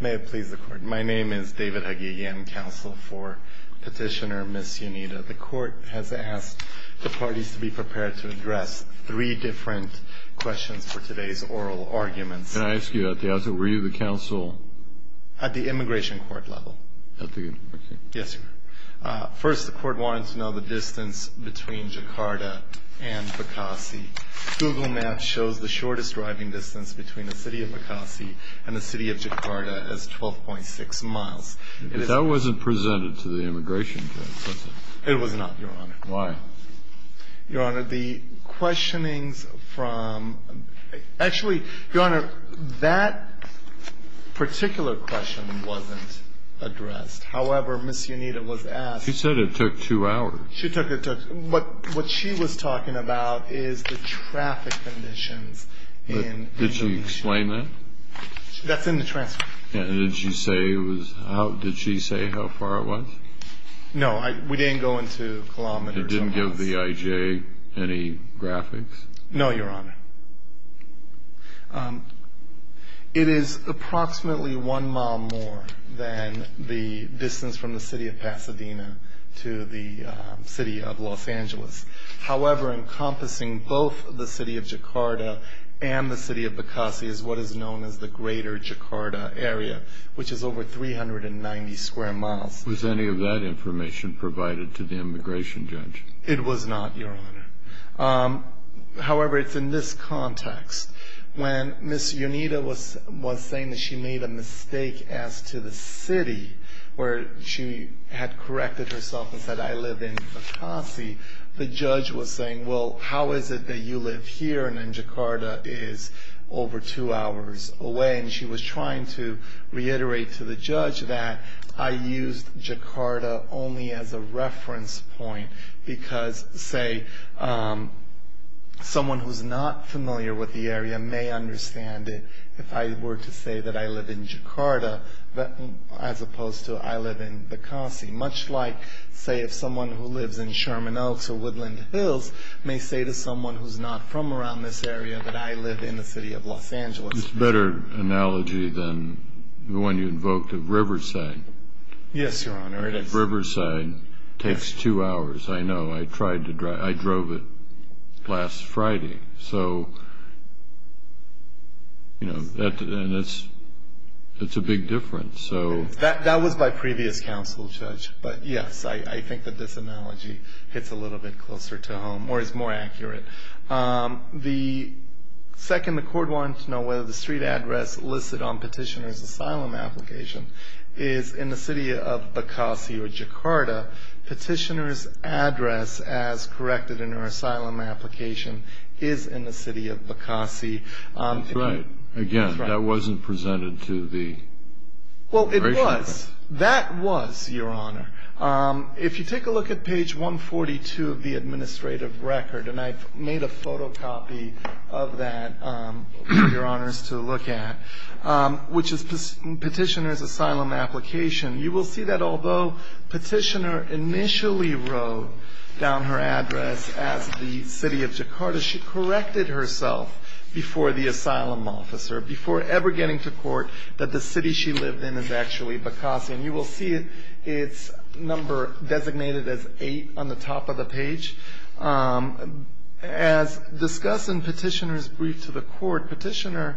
May it please the Court. My name is David Hagiagyan, counsel for petitioner Ms. Yunita. The Court has asked the parties to be prepared to address three different questions for today's oral arguments. Can I ask you, at the outset, were you the counsel? At the Immigration Court level. At the, okay. Yes, sir. First, the Court wanted to know the distance between Jakarta and Bekasi. Google Maps shows the shortest driving distance between the city of Bekasi and the city of Jakarta as 12.6 miles. That wasn't presented to the Immigration Court, was it? It was not, Your Honor. Why? Your Honor, the questionings from, actually, Your Honor, that particular question wasn't addressed. However, Ms. Yunita was asked. She said it took two hours. What she was talking about is the traffic conditions in Indonesia. Did she explain that? That's in the transcript. Did she say how far it was? No, we didn't go into kilometers or miles. It didn't give the IJ any graphics? No, Your Honor. It is approximately one mile more than the distance from the city of Pasadena to the city of Los Angeles. However, encompassing both the city of Jakarta and the city of Bekasi is what is known as the Greater Jakarta Area, which is over 390 square miles. Was any of that information provided to the Immigration Judge? It was not, Your Honor. However, it's in this context. When Ms. Yunita was saying that she made a mistake as to the city, where she had corrected herself and said, I live in Bekasi, the judge was saying, well, how is it that you live here and then Jakarta is over two hours away? And she was trying to reiterate to the judge that I used Jakarta only as a reference point because, say, someone who's not familiar with the area may understand it if I were to say that I live in Jakarta, as opposed to I live in Bekasi. Much like, say, if someone who lives in Sherman Oaks or Woodland Hills may say to someone who's not from around this area that I live in the city of Los Angeles. It's a better analogy than the one you invoked of Riverside. Yes, Your Honor, it is. Riverside takes two hours. I know. I tried to drive it. I drove it last Friday. So, you know, and it's a big difference. That was by previous counsel, Judge. But, yes, I think that this analogy hits a little bit closer to home or is more accurate. The second the court wanted to know whether the street address listed on petitioner's asylum application is in the city of Bekasi or Jakarta. Petitioner's address as corrected in her asylum application is in the city of Bekasi. That's right. Again, that wasn't presented to the. Well, it was. That was, Your Honor. If you take a look at page 142 of the administrative record, and I've made a photocopy of that for Your Honors to look at, which is petitioner's asylum application. You will see that although petitioner initially wrote down her address as the city of Jakarta, she corrected herself before the asylum officer, before ever getting to court, that the city she lived in is actually Bekasi. And you will see its number designated as 8 on the top of the page. As discussed in petitioner's brief to the court, petitioner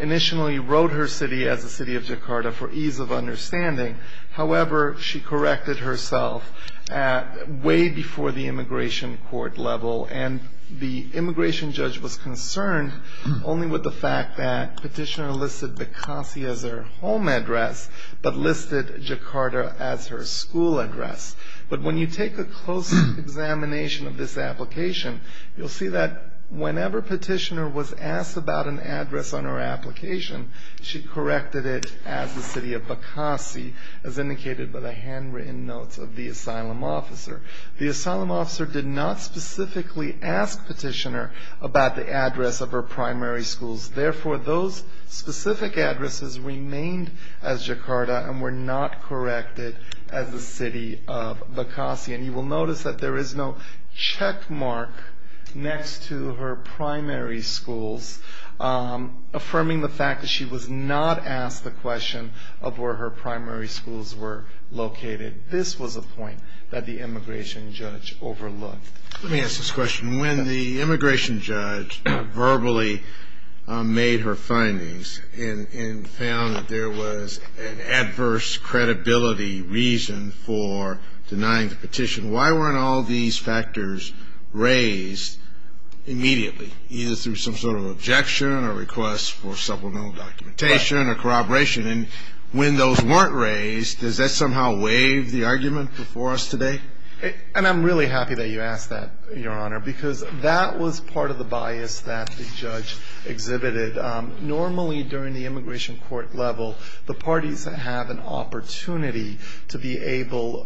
initially wrote her city as the city of Jakarta for ease of understanding. However, she corrected herself way before the immigration court level, and the immigration judge was concerned only with the fact that petitioner listed Bekasi as her home address but listed Jakarta as her school address. But when you take a close examination of this application, you'll see that whenever petitioner was asked about an address on her application, she corrected it as the city of Bekasi, as indicated by the handwritten notes of the asylum officer. The asylum officer did not specifically ask petitioner about the address of her primary schools. Therefore, those specific addresses remained as Jakarta and were not corrected as the city of Bekasi. And you will notice that there is no checkmark next to her primary schools, affirming the fact that she was not asked the question of where her primary schools were located. This was a point that the immigration judge overlooked. Let me ask this question. When the immigration judge verbally made her findings and found that there was an adverse credibility reason for denying the petition, why weren't all these factors raised immediately, either through some sort of objection or request for supplemental documentation or corroboration? And when those weren't raised, does that somehow waive the argument before us today? And I'm really happy that you asked that, Your Honor, because that was part of the bias that the judge exhibited. Normally, during the immigration court level, the parties have an opportunity to be able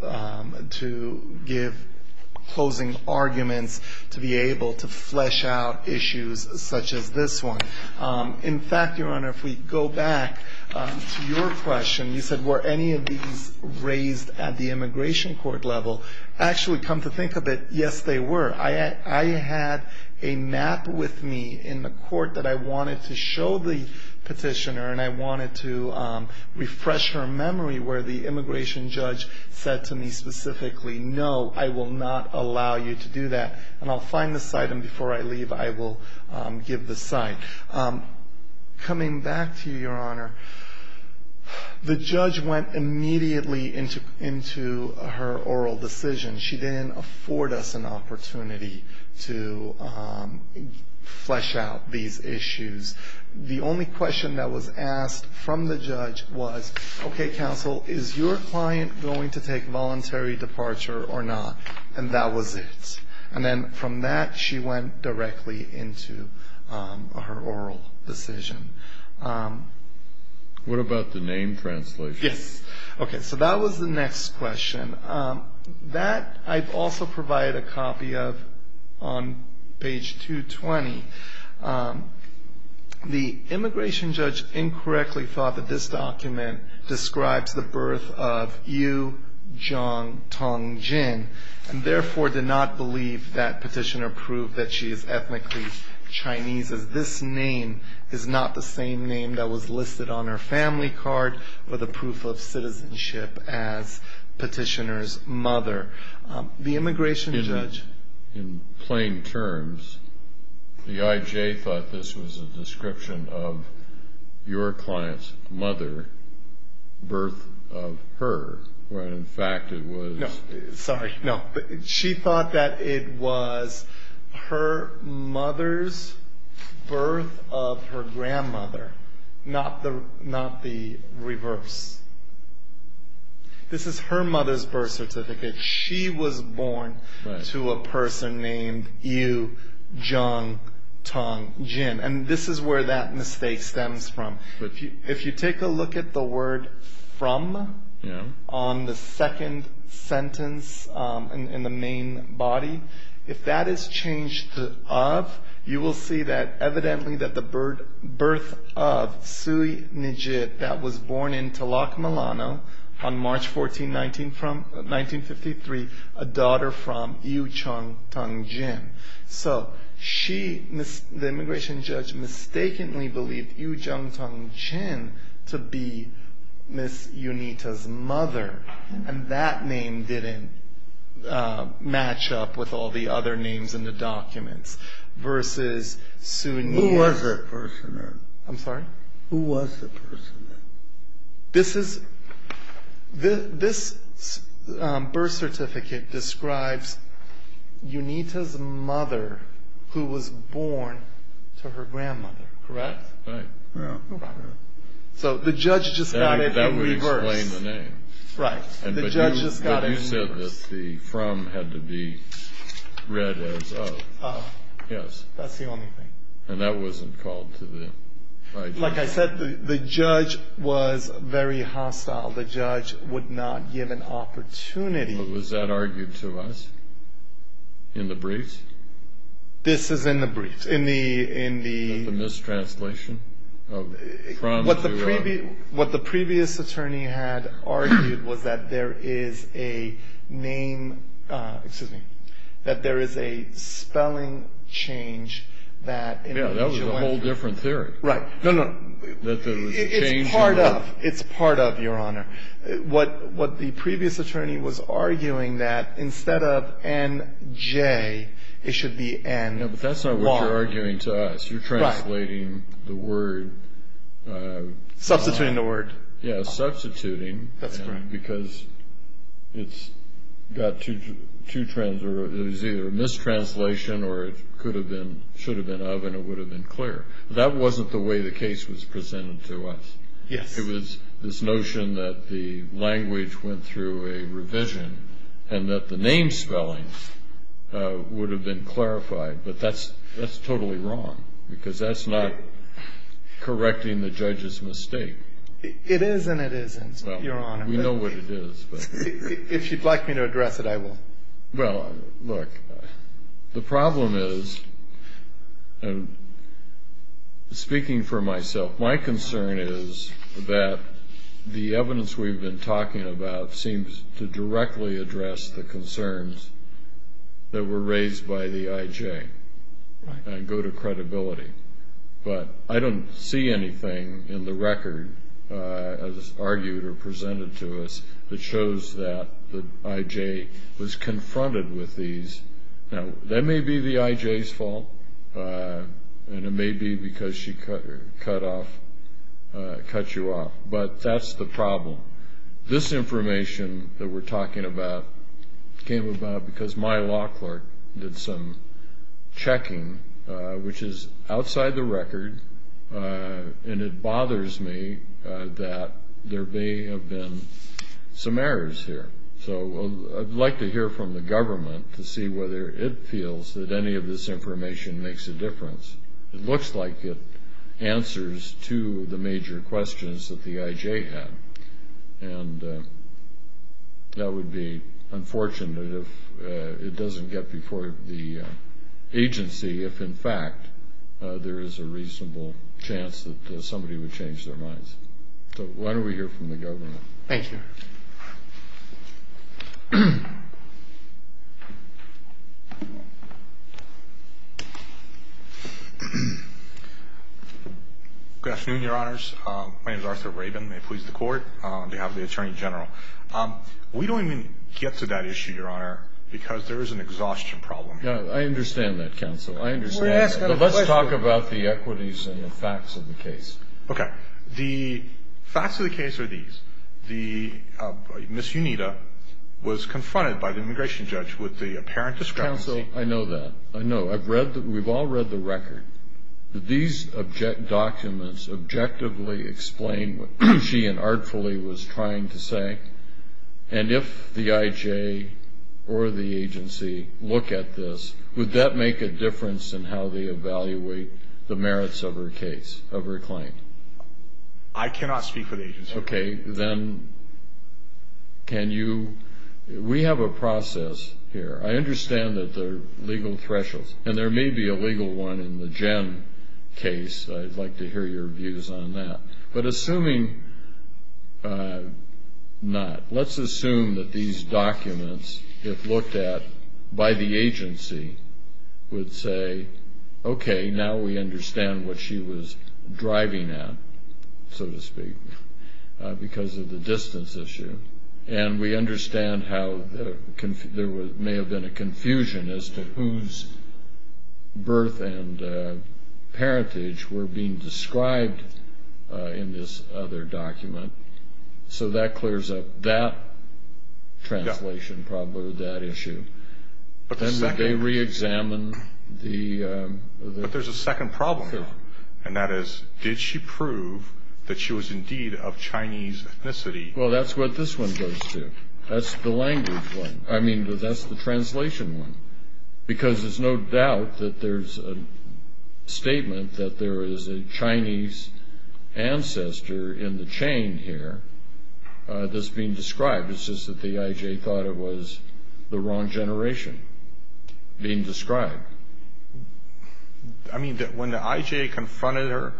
to give closing arguments, to be able to flesh out issues such as this one. In fact, Your Honor, if we go back to your question, you said, were any of these raised at the immigration court level? Actually, come to think of it, yes, they were. I had a map with me in the court that I wanted to show the petitioner, and I wanted to refresh her memory where the immigration judge said to me specifically, no, I will not allow you to do that. And I'll find this item before I leave. I will give the site. Coming back to you, Your Honor, the judge went immediately into her oral decision. She didn't afford us an opportunity to flesh out these issues. The only question that was asked from the judge was, okay, counsel, is your client going to take voluntary departure or not? And that was it. And then from that, she went directly into her oral decision. What about the name translation? Yes. Okay, so that was the next question. That I've also provided a copy of on page 220. The immigration judge incorrectly thought that this document describes the birth of Yu Jong Tong Jin and therefore did not believe that petitioner proved that she is ethnically Chinese, as this name is not the same name that was listed on her family card or the proof of citizenship as petitioner's mother. The immigration judge ---- In plain terms, the IJ thought this was a description of your client's mother, birth of her, when in fact it was ---- Sorry, no. She thought that it was her mother's birth of her grandmother, not the reverse. This is her mother's birth certificate. She was born to a person named Yu Jong Tong Jin. And this is where that mistake stems from. If you take a look at the word from on the second sentence in the main body, if that is changed to of, you will see that evidently that the birth of Sui Nijit that was born in Talak Milano on March 14, 1953, a daughter from Yu Jong Tong Jin. So she, the immigration judge, mistakenly believed Yu Jong Tong Jin to be Miss Yunita's mother. And that name didn't match up with all the other names in the documents versus Sui Nijit. Who was the person? I'm sorry? Who was the person? This is, this birth certificate describes Yunita's mother who was born to her grandmother, correct? Right. So the judge just got it in reverse. That would explain the name. Right. The judge just got it in reverse. But you said that the from had to be read as of. Of. Yes. That's the only thing. And that wasn't called to the ID. Like I said, the judge was very hostile. The judge would not give an opportunity. But was that argued to us in the briefs? This is in the briefs. In the. In the mistranslation of from to of. What the previous attorney had argued was that there is a name, excuse me, that there is a spelling change that. Yeah, that was a whole different theory. Right. No, no. That there was a change. It's part of. It's part of, Your Honor. What the previous attorney was arguing that instead of NJ, it should be NY. No, but that's not what you're arguing to us. Right. You're translating the word. Substituting the word. Yeah, substituting. That's correct. Because it's got two, there's either a mistranslation or it could have been, should have been of and it would have been clear. That wasn't the way the case was presented to us. Yes. It was this notion that the language went through a revision and that the name spelling would have been clarified. But that's totally wrong because that's not correcting the judge's mistake. It is and it isn't, Your Honor. Well, we know what it is. If you'd like me to address it, I will. Well, look, the problem is, speaking for myself, my concern is that the evidence we've been talking about seems to directly address the concerns that were raised by the IJ and go to credibility. But I don't see anything in the record, as argued or presented to us, that shows that the IJ was confronted with these. Now, that may be the IJ's fault and it may be because she cut you off, but that's the problem. This information that we're talking about came about because my law clerk did some checking, which is outside the record, and it bothers me that there may have been some errors here. So I'd like to hear from the government to see whether it feels that any of this information makes a difference. It looks like it answers to the major questions that the IJ had, and that would be unfortunate if it doesn't get before the agency, if in fact there is a reasonable chance that somebody would change their minds. So why don't we hear from the government? Thank you. Good afternoon, Your Honors. My name is Arthur Rabin, may it please the Court, on behalf of the Attorney General. We don't even get to that issue, Your Honor, because there is an exhaustion problem. I understand that, Counsel. Let's talk about the equities and the facts of the case. Okay. The facts of the case are these. Ms. Unita was confronted by the immigration judge with the apparent discrepancy. Counsel, I know that. I know. We've all read the record. These documents objectively explain what she and artfully was trying to say, and if the IJ or the agency look at this, would that make a difference in how they evaluate the merits of her case, of her claim? I cannot speak for the agency. Okay. Then can you we have a process here. I understand that there are legal thresholds, and there may be a legal one in the Jen case. I'd like to hear your views on that. But assuming not, let's assume that these documents, if looked at by the agency, would say, okay, now we understand what she was driving at, so to speak, because of the distance issue, and we understand how there may have been a confusion as to whose birth and parentage were being described in this other document. So that clears up that translation problem or that issue. Then would they reexamine the – But there's a second problem, and that is, did she prove that she was indeed of Chinese ethnicity? Well, that's what this one goes to. That's the language one. I mean, that's the translation one, because there's no doubt that there's a statement that there is a Chinese ancestor in the chain here that's being described. It's just that the IJ thought it was the wrong generation being described. I mean, when the IJ confronted her,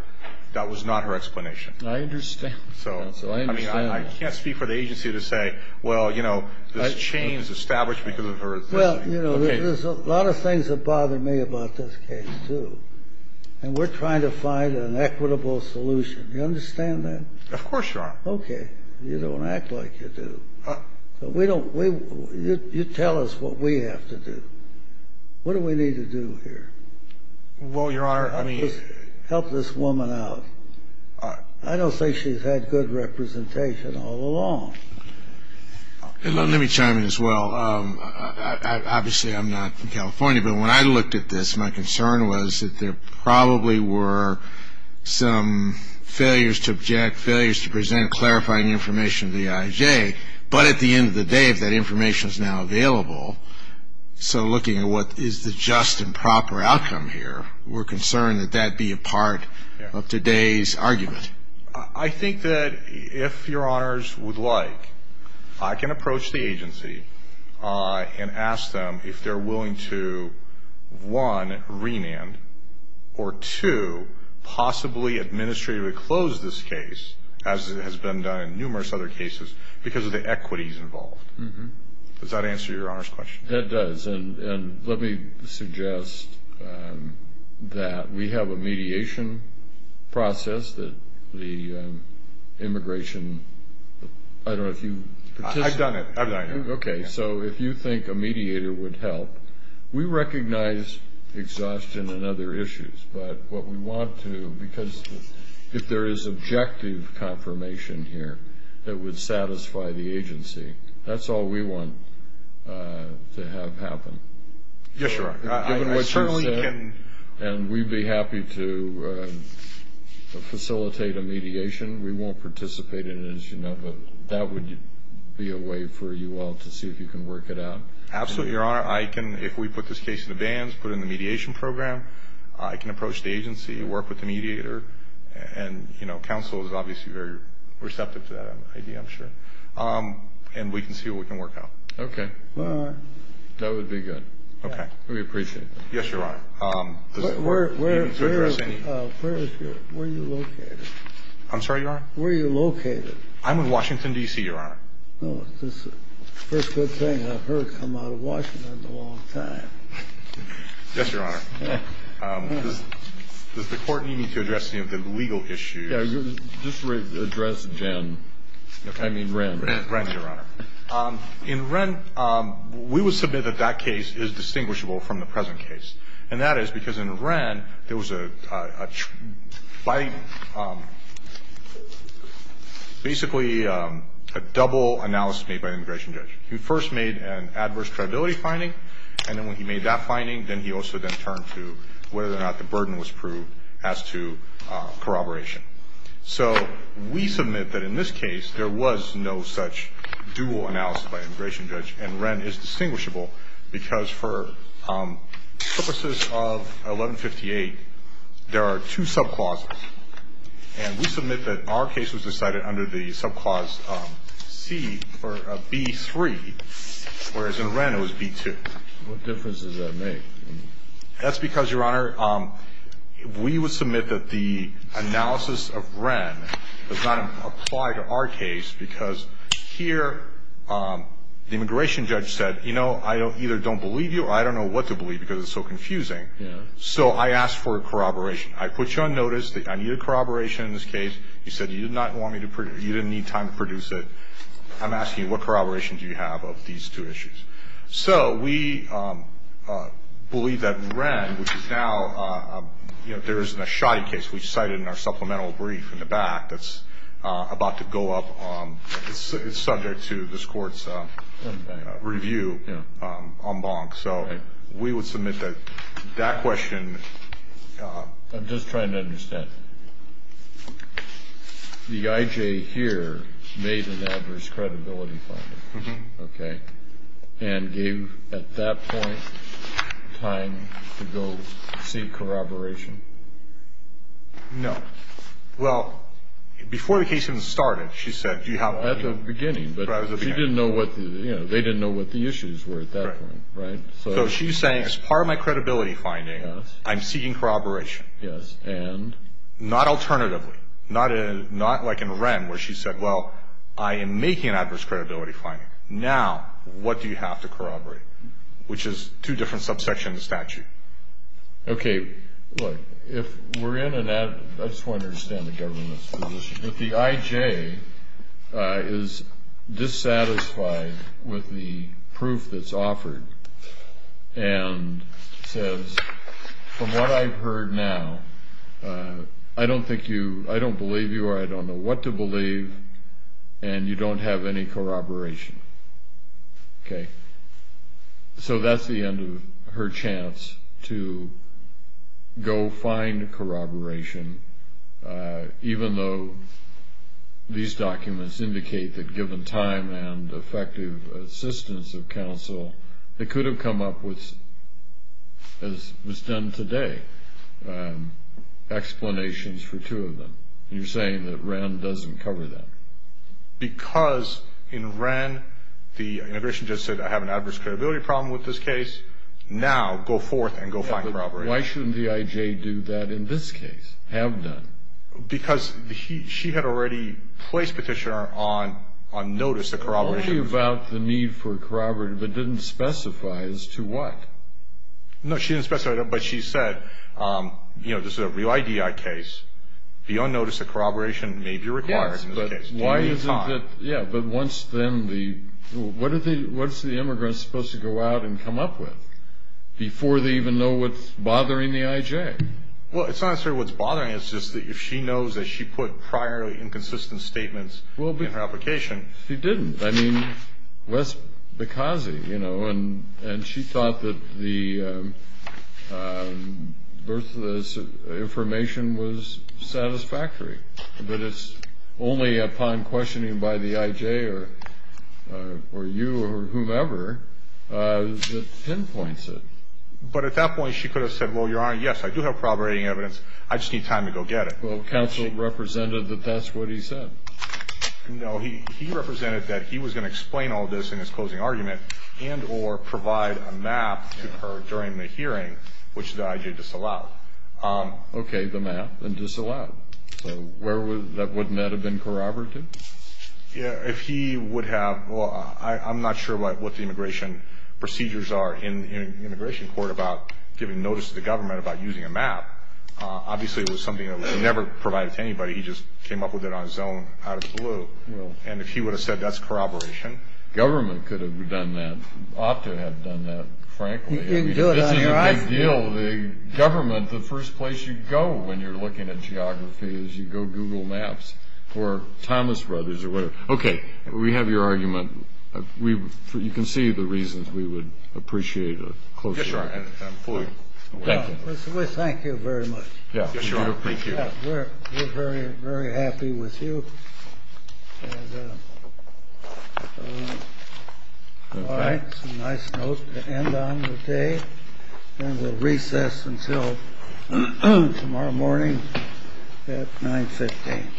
that was not her explanation. I understand. So, I mean, I can't speak for the agency to say, well, you know, this chain is established because of her ethnicity. Well, you know, there's a lot of things that bother me about this case, too, and we're trying to find an equitable solution. Do you understand that? Of course, Your Honor. Okay. You don't act like you do. We don't – you tell us what we have to do. What do we need to do here? Well, Your Honor, I mean – Help this woman out. I don't think she's had good representation all along. Let me chime in as well. Obviously, I'm not from California, but when I looked at this, my concern was that there probably were some failures to object, failures to present clarifying information to the IJ. But at the end of the day, if that information is now available, so looking at what is the just and proper outcome here, we're concerned that that be a part of today's argument. I think that if Your Honors would like, I can approach the agency and ask them if they're willing to, one, remand, or two, possibly administratively close this case, as has been done in numerous other cases, because of the equities involved. Does that answer Your Honor's question? That does. And let me suggest that we have a mediation process that the immigration – I don't know if you've participated. I've done it. I've done it. Okay. So if you think a mediator would help, we recognize exhaustion and other issues. But what we want to – because if there is objective confirmation here, that would satisfy the agency. That's all we want to have happen. Yes, Your Honor. Given what you said, and we'd be happy to facilitate a mediation. We won't participate in it, as you know, but that would be a way for you all to see if you can work it out. Absolutely, Your Honor. I can, if we put this case in the bands, put it in the mediation program, I can approach the agency, work with the mediator, and counsel is obviously very receptive to that idea, I'm sure, and we can see what we can work out. Okay. All right. That would be good. Okay. We appreciate it. Yes, Your Honor. Where is your – where are you located? I'm sorry, Your Honor? Where are you located? I'm in Washington, D.C., Your Honor. This is the first good thing I've heard coming out of Washington in a long time. Yes, Your Honor. Does the Court need me to address any of the legal issues? Yes, just address Jen. I mean, Wren. Wren, Your Honor. In Wren, we would submit that that case is distinguishable from the present case, and that is because in Wren there was basically a double analysis made by an immigration judge. He first made an adverse credibility finding, and then when he made that finding, then he also then turned to whether or not the burden was proved as to corroboration. So we submit that in this case, there was no such dual analysis by an immigration judge, and Wren is distinguishable because for purposes of 1158, there are two subclauses, and we submit that our case was decided under the subclause B-3, whereas in Wren it was B-2. What difference does that make? That's because, Your Honor, we would submit that the analysis of Wren does not apply to our case because here the immigration judge said, you know, I either don't believe you or I don't know what to believe because it's so confusing. So I asked for corroboration. I put you on notice that I needed corroboration in this case. You said you didn't need time to produce it. So we believe that Wren, which is now, you know, there isn't a shoddy case. We cite it in our supplemental brief in the back that's about to go up. It's subject to this Court's review en banc. So we would submit that that question. I'm just trying to understand. The I.J. here made an adverse credibility finding. Okay. And gave, at that point, time to go seek corroboration? No. Well, before the case even started, she said, do you have a- At the beginning. At the beginning. But she didn't know what the, you know, they didn't know what the issues were at that point, right? So she's saying, as part of my credibility finding, I'm seeking corroboration. Yes. And? Not alternatively. Not like in Wren, where she said, well, I am making an adverse credibility finding. Now, what do you have to corroborate? Which is two different subsections of the statute. Okay. Look, if we're in an- I just want to understand the government's position. The I.J. is dissatisfied with the proof that's offered, and says, from what I've heard now, I don't think you- I don't believe you, or I don't know what to believe, and you don't have any corroboration. Okay. So that's the end of her chance to go find corroboration, even though these documents indicate that given time and effective assistance of counsel, they could have come up with, as was done today, explanations for two of them. And you're saying that Wren doesn't cover that. Because in Wren, the immigration judge said, I have an adverse credibility problem with this case. Now, go forth and go find corroboration. Why shouldn't the I.J. do that in this case, have done? Because she had already placed petitioner on notice of corroboration. Only about the need for corroboration, but didn't specify as to what. No, she didn't specify, but she said, you know, this is a real I.D.I. case. Beyond notice of corroboration may be required in this case. Yes, but why is it that- Do you need time? Yeah, but what's the immigrant supposed to go out and come up with before they even know what's bothering the I.J.? Well, it's not necessarily what's bothering her. It's just that if she knows that she put prior inconsistent statements in her application- She didn't. I mean, what's the cause, you know? And she thought that the birth of this information was satisfactory. But it's only upon questioning by the I.J. or you or whomever that pinpoints it. But at that point, she could have said, well, Your Honor, yes, I do have corroborating evidence. I just need time to go get it. Well, counsel represented that that's what he said. No, he represented that he was going to explain all this in his closing argument and or provide a map to her during the hearing, which the I.J. disallowed. Okay, the map and disallowed. So wouldn't that have been corroborated? Yeah, if he would have- Well, I'm not sure what the immigration procedures are in immigration court about giving notice to the government about using a map. Obviously, it was something that was never provided to anybody. He just came up with it on his own out of the blue. And if he would have said that's corroboration- Government could have done that. Opto had done that, frankly. You can do it on your own. This is a big deal. The government, the first place you go when you're looking at geography is you go Google Maps or Thomas Brothers or whatever. Okay, we have your argument. You can see the reasons we would appreciate a closer argument. Yes, Your Honor, and I'm fully- Thank you. Mr. Wyss, thank you very much. Yes, Your Honor. Thank you. We're very, very happy with you. All right. Some nice notes to end on today. And we'll recess until tomorrow morning at 9.15.